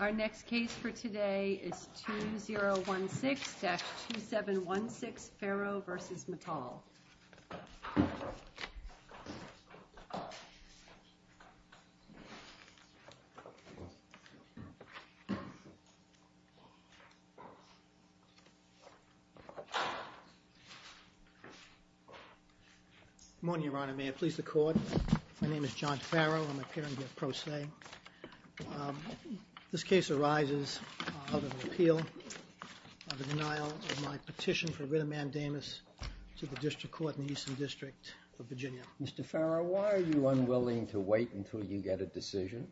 Our next case for today is 2016-2716 Faro v. Matal. Good morning, Your Honor. May it please the Court. My name is John Faro. I'm appearing here pro se. This case arises out of an appeal of the denial of my petition for writ of mandamus to the District Court in the Eastern District of Virginia. Mr. Faro, why are you unwilling to wait until you get a decision?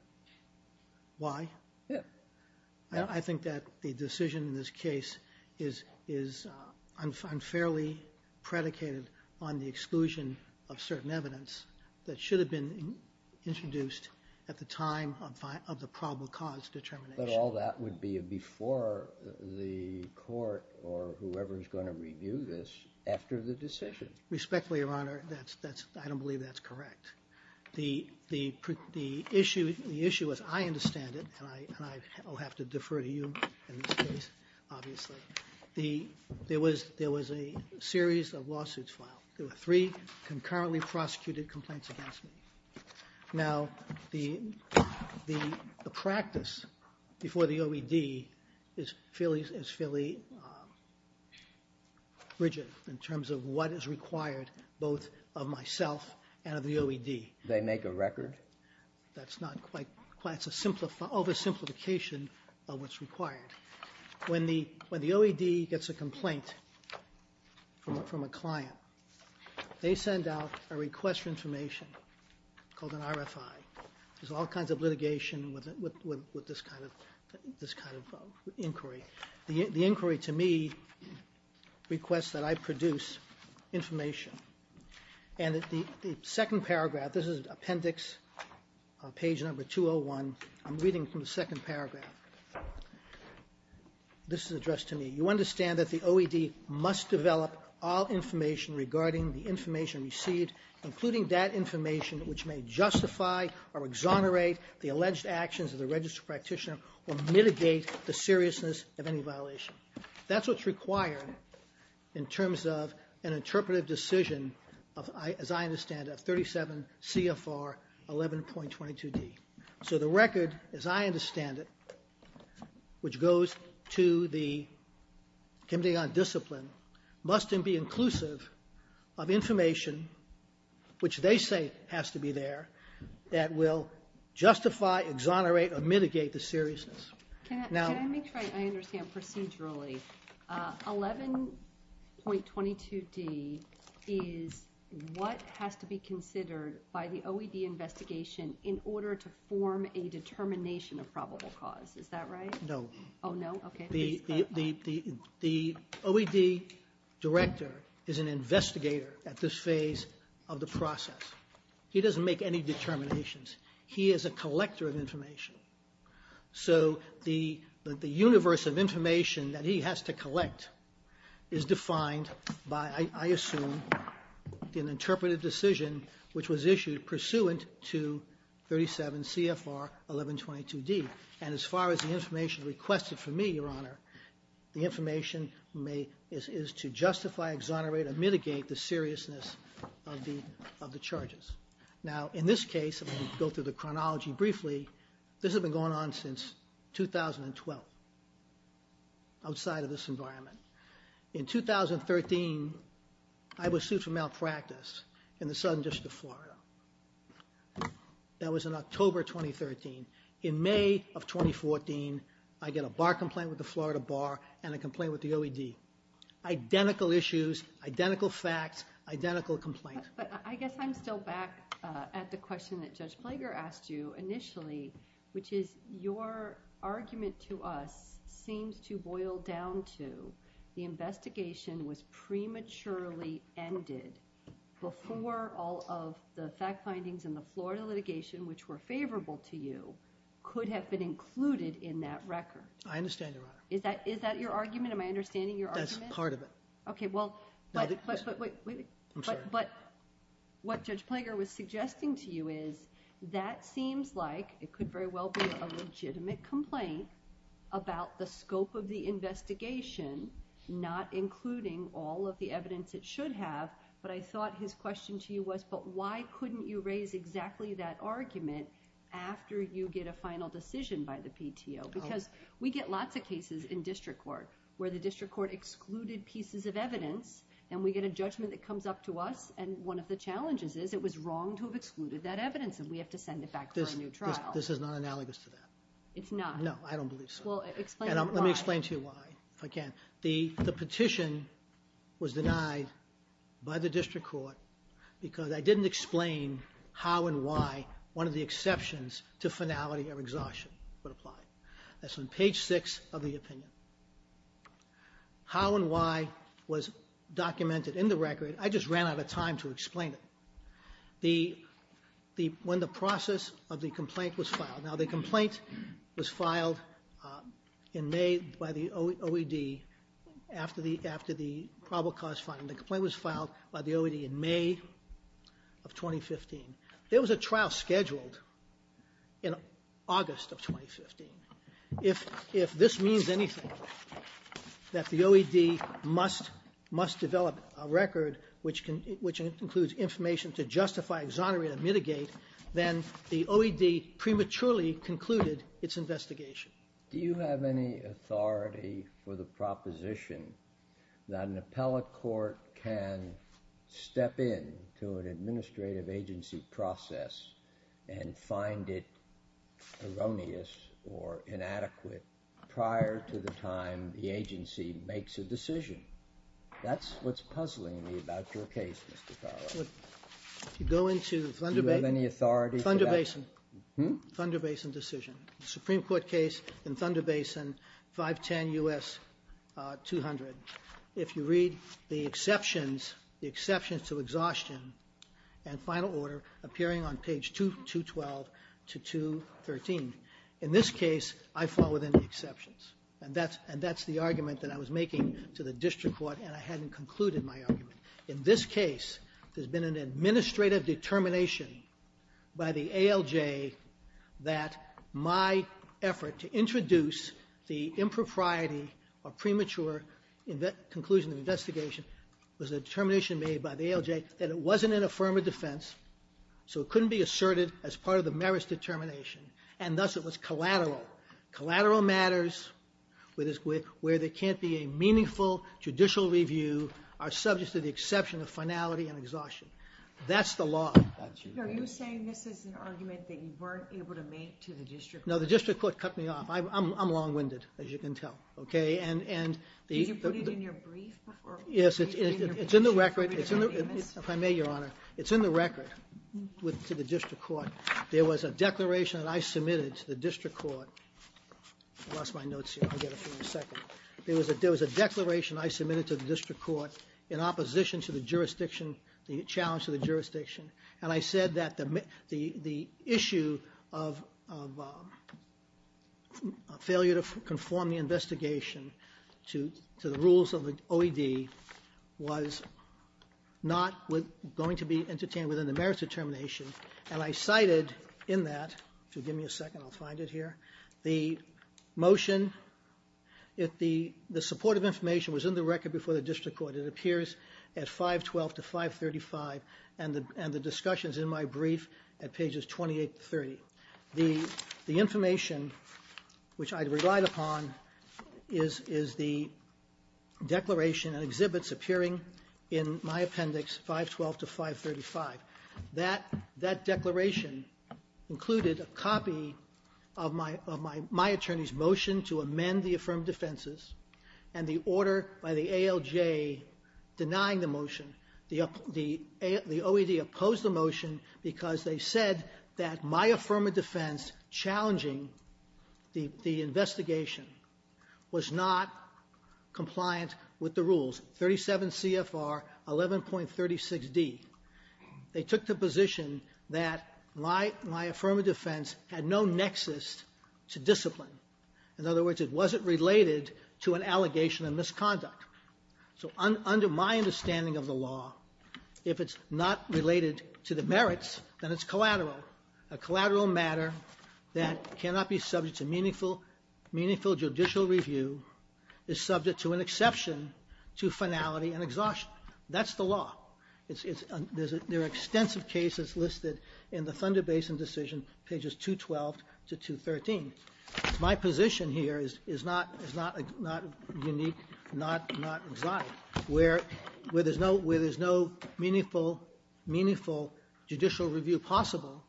Why? I think that the decision in this case is unfairly predicated on the exclusion of certain evidence that should have been introduced at the time of the probable cause determination. But all that would be before the court or whoever is going to review this after the decision. Respectfully, Your Honor, I don't believe that's correct. The issue as I understand it, and I will have to defer to you in this case, obviously, there was a series of lawsuits filed. There were three concurrently prosecuted complaints against me. Now, the practice before the OED is fairly rigid in terms of what is required both of myself and of the OED. Do they make a record? That's not quite. It's oversimplification of what's required. When the OED gets a complaint from a client, they send out a request for information called an RFI. There's all kinds of litigation with this kind of inquiry. The inquiry to me requests that I produce information. And the second paragraph, this is Appendix, page number 201. I'm reading from the second paragraph. This is addressed to me. You understand that the OED must develop all information regarding the information received, including that information which may justify or exonerate the alleged actions of the registered practitioner or mitigate the seriousness of any violation. That's what's required in terms of an interpretive decision of, as I understand it, 37 CFR 11.22d. So the record, as I understand it, which goes to the Committee on Discipline, must then be inclusive of information which they say has to be there that will justify, exonerate, or mitigate the seriousness. Can I make sure I understand procedurally? 11.22d is what has to be considered by the OED investigation in order to form a determination of probable cause. Is that right? No. The OED director is an investigator at this phase of the process. He doesn't make any determinations. He is a collector of information. So the universe of information that he has to collect is defined by, I assume, an interpretive decision which was issued pursuant to 37 CFR 11.22d. And as far as the information requested from me, Your Honor, the information is to justify, exonerate, or mitigate the seriousness of the charges. Now, in this case, I'm going to go through the chronology briefly. This has been going on since 2012, outside of this environment. In 2013, I was sued for malpractice in the Southern District of Florida. That was in October 2013. In May of 2014, I get a bar complaint with the Florida Bar and a complaint with the OED. Identical issues, identical facts, identical complaints. But I guess I'm still back at the question that Judge Plager asked you initially, which is your argument to us seems to boil down to the investigation was prematurely ended before all of the fact findings in the Florida litigation, which were favorable to you, could have been included in that record. I understand, Your Honor. Is that your argument? Am I understanding your argument? That's part of it. Okay, well, but what Judge Plager was suggesting to you is that seems like it could very well be a legitimate complaint about the scope of the investigation, not including all of the evidence it should have. But I thought his question to you was, but why couldn't you raise exactly that argument after you get a final decision by the PTO? Because we get lots of cases in district court where the district court excluded pieces of evidence and we get a judgment that comes up to us and one of the challenges is it was wrong to have excluded that evidence and we have to send it back for a new trial. This is not analogous to that. It's not? No, I don't think so. And let me explain to you why, if I can. The petition was denied by the district court because I didn't explain how and why one of the exceptions to finality of exhaustion would apply. That's on page 6 of the opinion. How and why was documented in the record, I just ran out of time to explain it. When the process of the complaint was filed, now in May by the OED after the probable cause filing, the complaint was filed by the OED in May of 2015. There was a trial scheduled in August of 2015. If this means anything that the OED must develop a record which includes information to justify, exonerate, mitigate, then the OED prematurely concluded its investigation. Do you have any authority for the proposition that an appellate court can step in to an administrative agency process and find it erroneous or inadequate prior to the time the agency makes a decision? That's what's puzzling me about your case, Mr. Farrell. Do you have any authority for that? Thunder Basin decision. The Supreme Court case in Thunder Basin, 510 U.S. 200. If you read the exceptions, the exceptions to exhaustion and final order appearing on page 212 to 213, in this case I fall within the exceptions. And that's the argument that I was making to the district court, and I hadn't concluded my argument. In this case, there's been an administrative determination by the ALJ that my effort to introduce the impropriety or premature conclusion of investigation was a determination made by the ALJ that it wasn't an affirmative defense, so it couldn't be asserted as part of the judicial review are subject to the exception of finality and exhaustion. That's the law. Are you saying this is an argument that you weren't able to make to the district court? No, the district court cut me off. I'm long-winded, as you can tell. Did you put it in your brief? Yes, it's in the record. If I may, Your Honor, it's in the record to the district court. There was a declaration that I submitted to the district court. I lost my notes here. I'll get it for you in a second. There was a declaration I submitted to the district court in opposition to the jurisdiction, the challenge to the jurisdiction. And I said that the issue of failure to conform the investigation to the rules of the OED was not going to be entertained within the merits determination. And I cited in that, if you'll give me a second, I'll find it here, the motion. The supportive information was in the record before the district court. It appears at 512 to 535, and the discussion is in my brief at pages 28 to 30. The information which I relied upon is the declaration and exhibits appearing in my appendix 512 to 535. That declaration included a copy of my attorney's motion to amend the affirmative defenses and the order by the ALJ denying the motion. The OED opposed the motion because they said that my affirmative defense challenging the investigation was not compliant with the rules, 37 CFR 11.36D. They took the position that my affirmative defense had no nexus to discipline. In other words, it wasn't related to an allegation of misconduct. So under my understanding of the law, if it's not related to the merits, then it's collateral, a collateral matter that cannot be subject to meaningful judicial review, is subject to an exception to finality and exhaustion. That's the law. There are extensive cases listed in the Thunder Basin decision, pages 212 to 213. My position here is not unique, not exotic. Where there's no meaningful judicial review possible,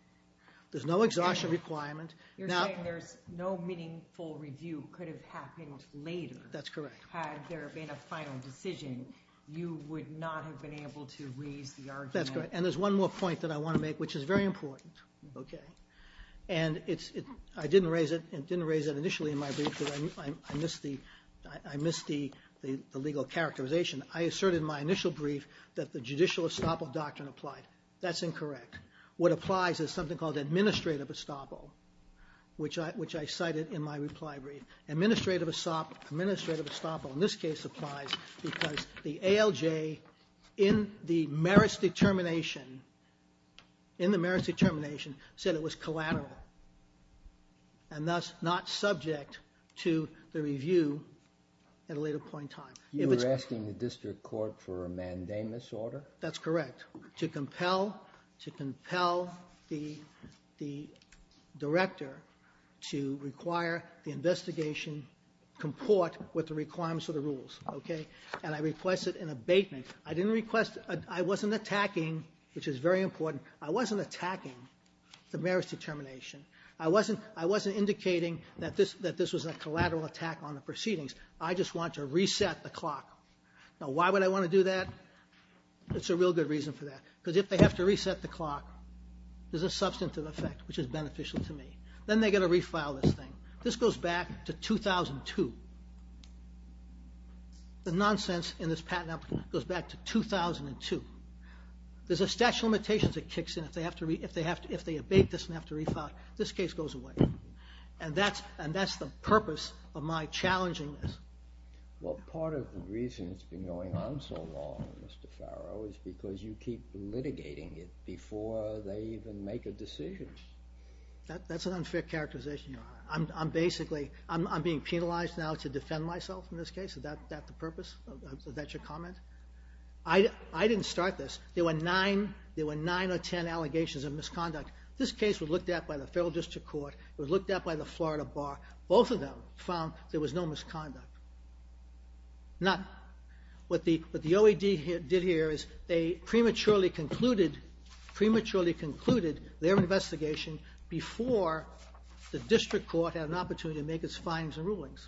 there's no exhaustion requirement. You're saying there's no meaningful review could have happened later. That's correct. Had there been a final decision, you would not have been able to raise the argument. That's correct. And there's one more point that I want to make, which is very important. And I didn't raise it initially in my brief because I missed the legal characterization. I asserted in my initial brief that the judicial estoppel doctrine applied. That's incorrect. What applies is something called administrative estoppel, which I cited in my reply brief. Administrative estoppel in this case applies because the ALJ, in the merits determination, said it was collateral and thus not subject to the review at a later point in time. You're asking the district court for a mandamus order? That's correct. To compel the director to require the investigation comport with the requirements of the rules. Okay? And I request it in abatement. I didn't request it. I wasn't attacking, which is very important. I wasn't attacking the merits determination. I wasn't indicating that this was a collateral attack on the proceedings. I just want to reset the clock. Now, why would I want to do that? It's a real good reason for that. Because if they have to reset the clock, there's a substantive effect, which is beneficial to me. Then they've got to refile this thing. This goes back to 2002. The nonsense in this patent application goes back to 2002. There's a stash of limitations that kicks in if they abate this and have to refile it. This case goes away. And that's the purpose of my challenging this. Well, part of the reason it's been going on so long, Mr. Farrow, is because you keep litigating it before they even make a decision. That's an unfair characterization. I'm being penalized now to defend myself in this case. Is that the purpose? Is that your comment? I didn't start this. There were 9 or 10 allegations of misconduct. This case was looked at by the federal district court. It was looked at by the Florida Bar. Both of them found there was no misconduct. None. What the OED did here is they prematurely concluded their investigation before the district court had an opportunity to make its findings and rulings.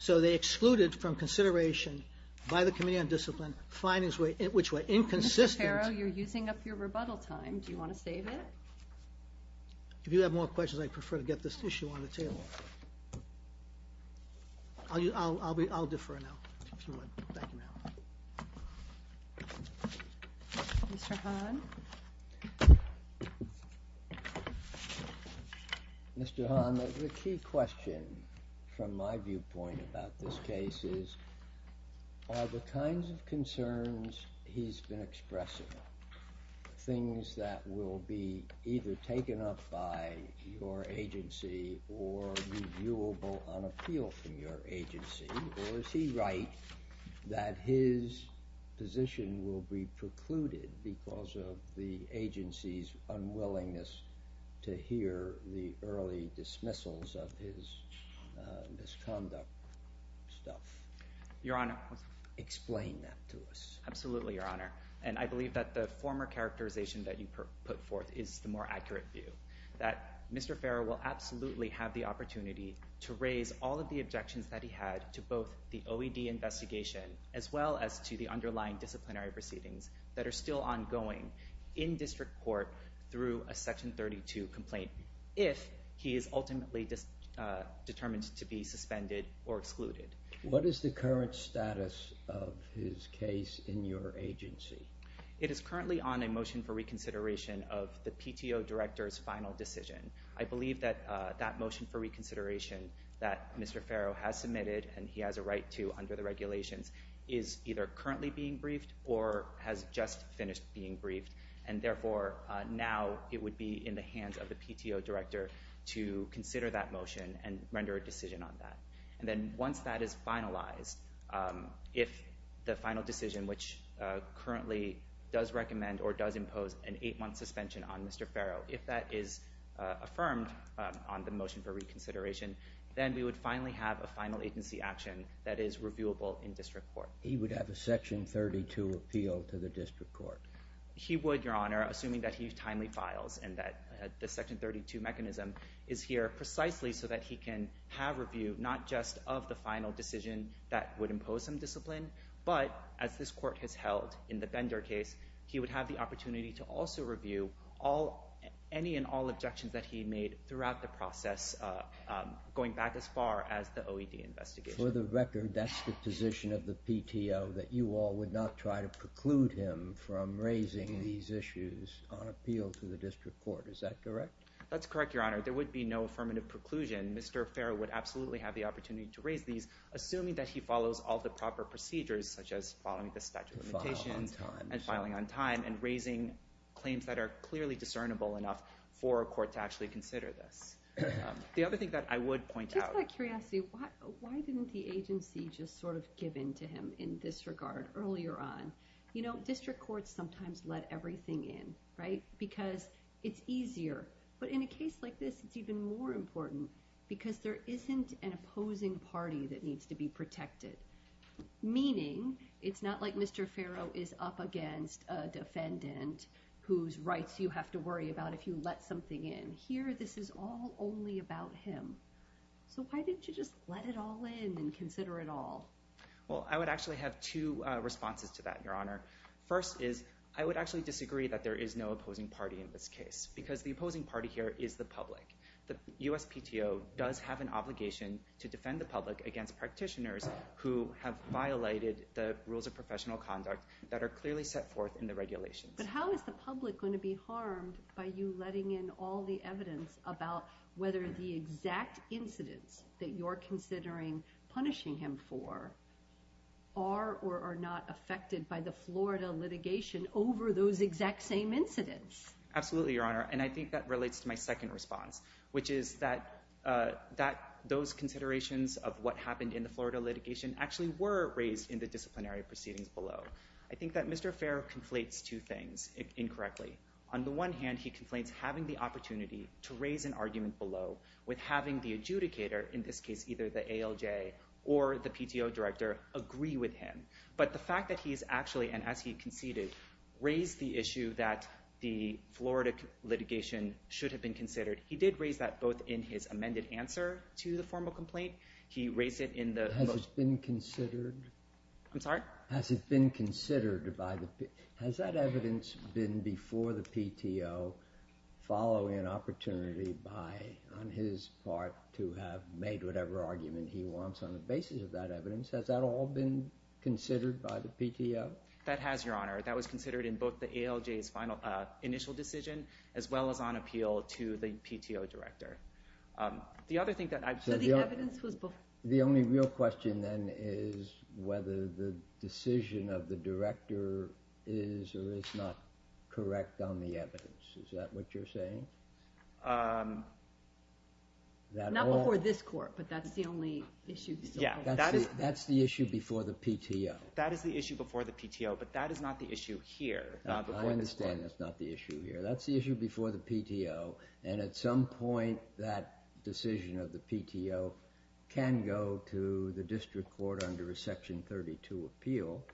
So they excluded from consideration by the Committee on Discipline findings which were inconsistent. Mr. Farrow, you're using up your rebuttal time. Do you want to save it? If you have more questions, I prefer to get this issue on the table. I'll defer now if you want. Thank you, ma'am. Mr. Hahn. Mr. Hahn, the key question from my viewpoint about this case is, are the kinds of concerns he's been expressing things that will be either taken up by your agency or reviewable on appeal from your agency, or is he right that his position will be precluded because of the agency's unwillingness to hear the early dismissals of his misconduct stuff? Your Honor. Explain that to us. Absolutely, Your Honor. And I believe that the former characterization that you put forth is the more accurate view, that Mr. Farrow will absolutely have the opportunity to raise all of the objections that he had to both the OED investigation as well as to the underlying disciplinary proceedings that are still ongoing in district court through a Section 32 complaint, if he is ultimately determined to be suspended or excluded. What is the current status of his case in your agency? It is currently on a motion for reconsideration of the PTO director's final decision. I believe that that motion for reconsideration that Mr. Farrow has submitted and he has a right to under the regulations is either currently being briefed or has just finished being briefed, and, therefore, now it would be in the hands of the PTO director to consider that motion and render a decision on that. And then once that is finalized, if the final decision, which currently does recommend or does impose an eight-month suspension on Mr. Farrow, if that is affirmed on the motion for reconsideration, then we would finally have a final agency action that is reviewable in district court. He would have a Section 32 appeal to the district court? He would, Your Honor, assuming that he timely files and that the Section 32 mechanism is here precisely so that he can have review, not just of the final decision that would impose some discipline, but as this court has held in the Bender case, he would have the opportunity to also review any and all objections that he made throughout the process, going back as far as the OED investigation. For the record, that's the position of the PTO, that you all would not try to preclude him from raising these issues on appeal to the district court. Is that correct? That's correct, Your Honor. There would be no affirmative preclusion. Mr. Farrow would absolutely have the opportunity to raise these, assuming that he follows all the proper procedures, such as following the statute of limitations and filing on time and raising claims that are clearly discernible enough for a court to actually consider this. The other thing that I would point out— Just out of curiosity, why didn't the agency just sort of give in to him in this regard earlier on? You know, district courts sometimes let everything in, right, because it's easier. But in a case like this, it's even more important because there isn't an opposing party that needs to be protected, meaning it's not like Mr. Farrow is up against a defendant whose rights you have to worry about if you let something in. Here, this is all only about him. So why didn't you just let it all in and consider it all? Well, I would actually have two responses to that, Your Honor. First is, I would actually disagree that there is no opposing party in this case because the opposing party here is the public. The USPTO does have an obligation to defend the public against practitioners who have violated the rules of professional conduct that are clearly set forth in the regulations. But how is the public going to be harmed by you letting in all the evidence about whether the exact incidents that you're considering punishing him for are or are not affected by the Florida litigation over those exact same incidents? Absolutely, Your Honor. And I think that relates to my second response, which is that those considerations of what happened in the Florida litigation actually were raised in the disciplinary proceedings below. I think that Mr. Farrow conflates two things incorrectly. On the one hand, he conflates having the opportunity to raise an argument below with having the adjudicator, in this case either the ALJ or the PTO director, agree with him. But the fact that he's actually, and as he conceded, raised the issue that the Florida litigation should have been considered, he did raise that both in his amended answer to the formal complaint. He raised it in the most... Has it been considered? I'm sorry? Has it been considered by the PTO? Has that evidence been before the PTO following an opportunity by, on his part, to have made whatever argument he wants on the basis of that evidence? Has that all been considered by the PTO? That has, Your Honor. That was considered in both the ALJ's initial decision as well as on appeal to the PTO director. The other thing that I... So the evidence was before... The only real question then is whether the decision of the director is or is not correct on the evidence. Is that what you're saying? Not before this court, but that's the only issue. That's the issue before the PTO. That is the issue before the PTO, but that is not the issue here. I understand that's not the issue here. That's the issue before the PTO, and at some point that decision of the PTO can go to the district court under a Section 32 appeal.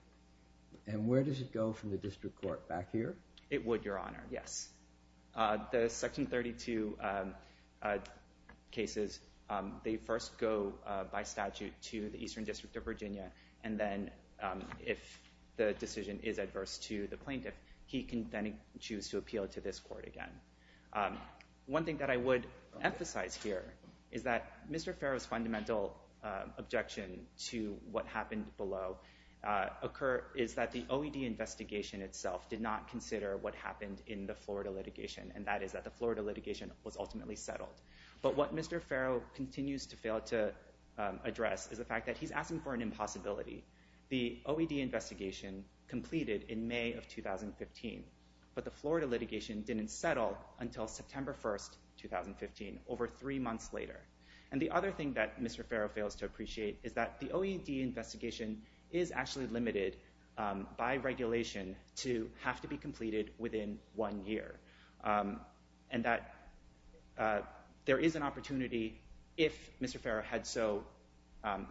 And where does it go from the district court? Back here? It would, Your Honor, yes. The Section 32 cases, they first go by statute to the Eastern District of Virginia, and then if the decision is adverse to the plaintiff, he can then choose to appeal to this court again. One thing that I would emphasize here is that Mr. Farrow's fundamental objection to what happened below is that the OED investigation itself did not consider what happened in the Florida litigation, and that is that the Florida litigation was ultimately settled. But what Mr. Farrow continues to fail to address is the fact that he's asking for an impossibility. The OED investigation completed in May of 2015, but the Florida litigation didn't settle until September 1, 2015, over three months later. And the other thing that Mr. Farrow fails to appreciate is that the OED investigation is actually limited by regulation to have to be completed within one year, and that there is an opportunity, if Mr. Farrow had so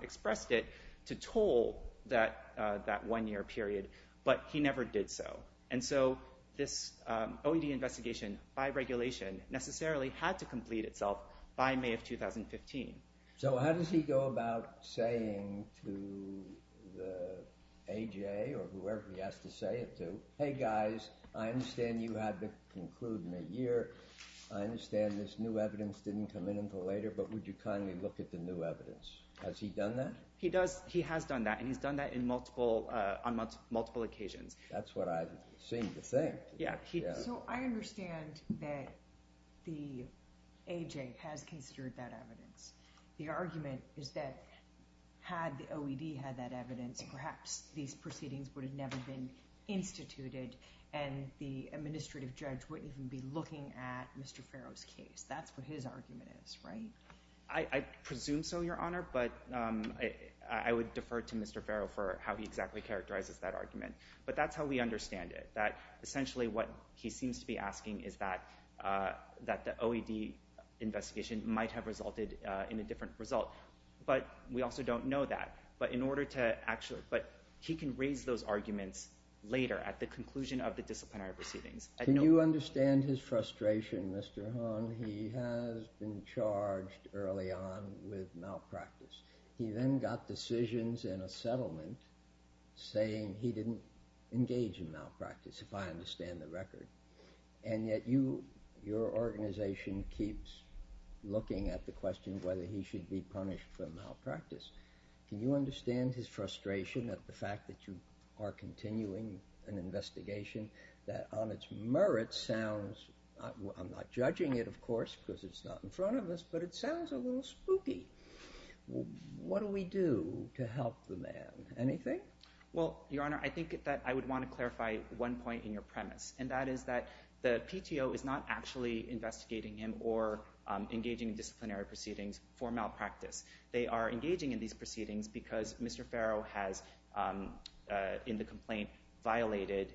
expressed it, to toll that one-year period, but he never did so. And so this OED investigation, by regulation, necessarily had to complete itself by May of 2015. So how does he go about saying to the AJA or whoever he has to say it to, hey, guys, I understand you have to conclude in a year. I understand this new evidence didn't come in until later, but would you kindly look at the new evidence? Has he done that? He has done that, and he's done that on multiple occasions. That's what I seem to think. So I understand that the AJA has considered that evidence. The argument is that had the OED had that evidence, perhaps these proceedings would have never been instituted and the administrative judge wouldn't even be looking at Mr. Farrow's case. That's what his argument is, right? I presume so, Your Honor, but I would defer to Mr. Farrow for how he exactly characterizes that argument. But that's how we understand it, that essentially what he seems to be asking is that the OED investigation might have resulted in a different result. But we also don't know that. But he can raise those arguments later at the conclusion of the disciplinary proceedings. Can you understand his frustration, Mr. Han? He has been charged early on with malpractice. He then got decisions in a settlement saying he didn't engage in malpractice, if I understand the record, and yet your organization keeps looking at the question of whether he should be punished for malpractice. Can you understand his frustration at the fact that you are continuing an investigation that on its merits sounds... I'm not judging it, of course, because it's not in front of us, but it sounds a little spooky. What do we do to help the man? Anything? Well, Your Honor, I think that I would want to clarify one point in your premise, and that is that the PTO is not actually investigating him or engaging in disciplinary proceedings for malpractice. They are engaging in these proceedings because Mr. Farrow has, in the complaint, violated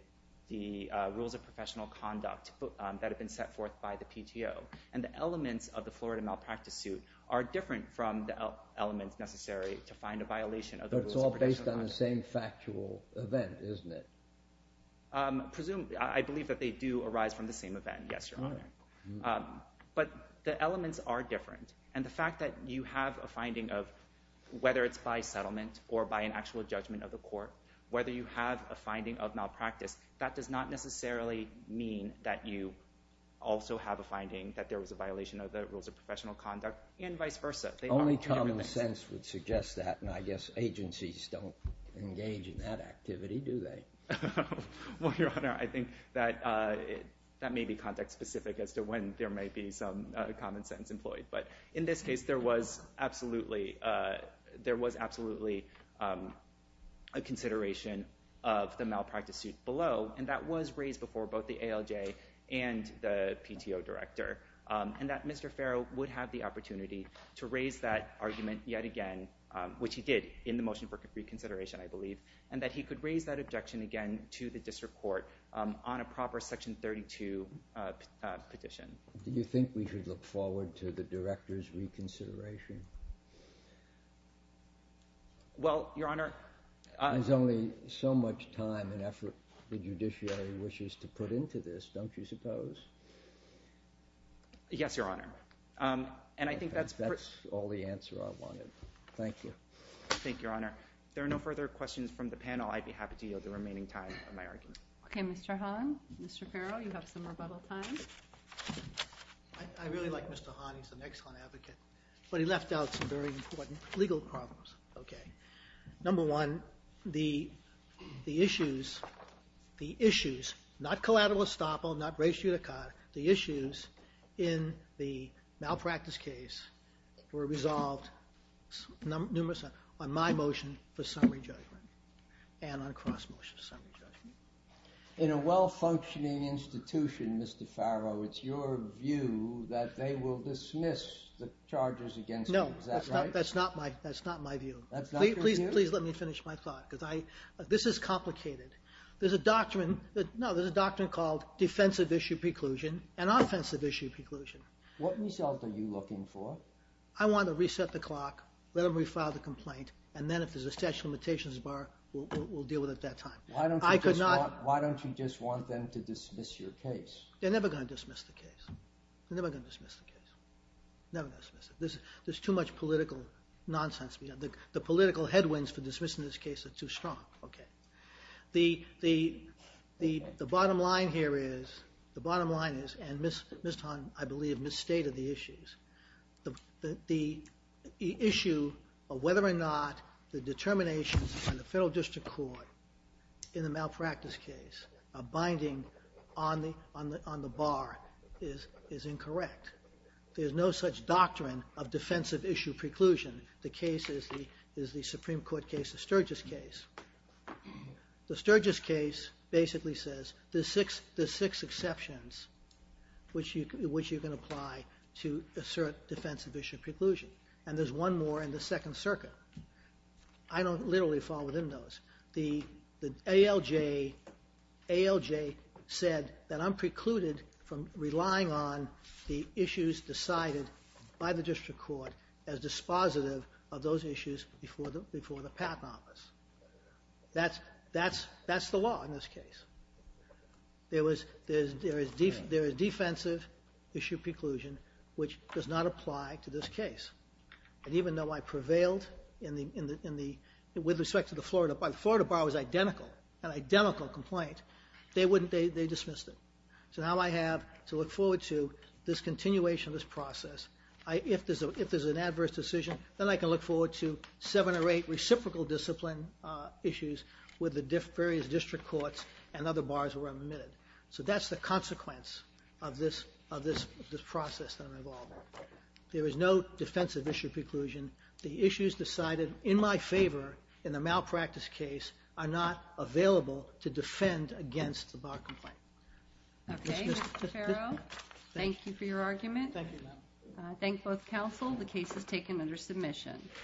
the rules of professional conduct that have been set forth by the PTO, and the elements of the Florida malpractice suit are different from the elements necessary to find a violation of the rules of professional conduct. But it's all based on the same factual event, isn't it? I believe that they do arise from the same event, yes, Your Honor. But the elements are different, and the fact that you have a finding of, or whether you have a finding of malpractice, that does not necessarily mean that you also have a finding that there was a violation of the rules of professional conduct, and vice versa. Only common sense would suggest that, and I guess agencies don't engage in that activity, do they? Well, Your Honor, I think that may be context-specific as to when there may be some common sense employed. But in this case, there was absolutely a consideration of the malpractice suit below, and that was raised before both the ALJ and the PTO director, and that Mr. Farrow would have the opportunity to raise that argument yet again, which he did in the motion for reconsideration, I believe, and that he could raise that objection again to the district court on a proper Section 32 petition. Do you think we should look forward to the director's reconsideration? Well, Your Honor— There's only so much time and effort the judiciary wishes to put into this, don't you suppose? Yes, Your Honor, and I think that's— That's all the answer I wanted. Thank you. Thank you, Your Honor. If there are no further questions from the panel, I'd be happy to yield the remaining time for my argument. Okay, Mr. Hahn, Mr. Farrow, you have some rebuttal time. I really like Mr. Hahn. He's an excellent advocate. But he left out some very important legal problems. Okay. Number one, the issues— the issues, not collateral estoppel, not ratio d'etat, the issues in the malpractice case were resolved on my motion for summary judgment and on cross-motion summary judgment. In a well-functioning institution, Mr. Farrow, it's your view that they will dismiss the charges against you. No. Is that right? That's not my view. That's not your view? Please let me finish my thought, because this is complicated. There's a doctrine— No, there's a doctrine called defensive issue preclusion and offensive issue preclusion. What result are you looking for? I want to reset the clock, let them refile the complaint, and then if there's a statute of limitations bar, we'll deal with it at that time. Why don't you just want them to dismiss your case? They're never going to dismiss the case. They're never going to dismiss the case. Never going to dismiss it. There's too much political nonsense. The political headwinds for dismissing this case are too strong. Okay. The bottom line here is—the bottom line is, and Ms. Hahn, I believe, misstated the issues. The issue of whether or not the determinations on the federal district court in the malpractice case are binding on the bar is incorrect. There's no such doctrine of defensive issue preclusion. The case is the Supreme Court case, the Sturgis case. The Sturgis case basically says there's six exceptions which you can apply to assert defensive issue preclusion, and there's one more in the Second Circuit. I don't literally fall within those. The ALJ said that I'm precluded from relying on the issues decided by the district court as dispositive of those issues before the patent office. That's the law in this case. There is defensive issue preclusion which does not apply to this case. And even though I prevailed in the—with respect to the Florida Bar, the Florida Bar was identical, an identical complaint. They wouldn't—they dismissed it. So now I have to look forward to this continuation of this process. If there's an adverse decision, then I can look forward to seven or eight reciprocal discipline issues with the various district courts and other bars where I'm admitted. So that's the consequence of this process that I'm involved in. There is no defensive issue preclusion. The issues decided in my favor in the malpractice case are not available to defend against the bar complaint. Okay, Mr. Ferro, thank you for your argument. Thank you, ma'am. I thank both counsel. The case is taken under submission.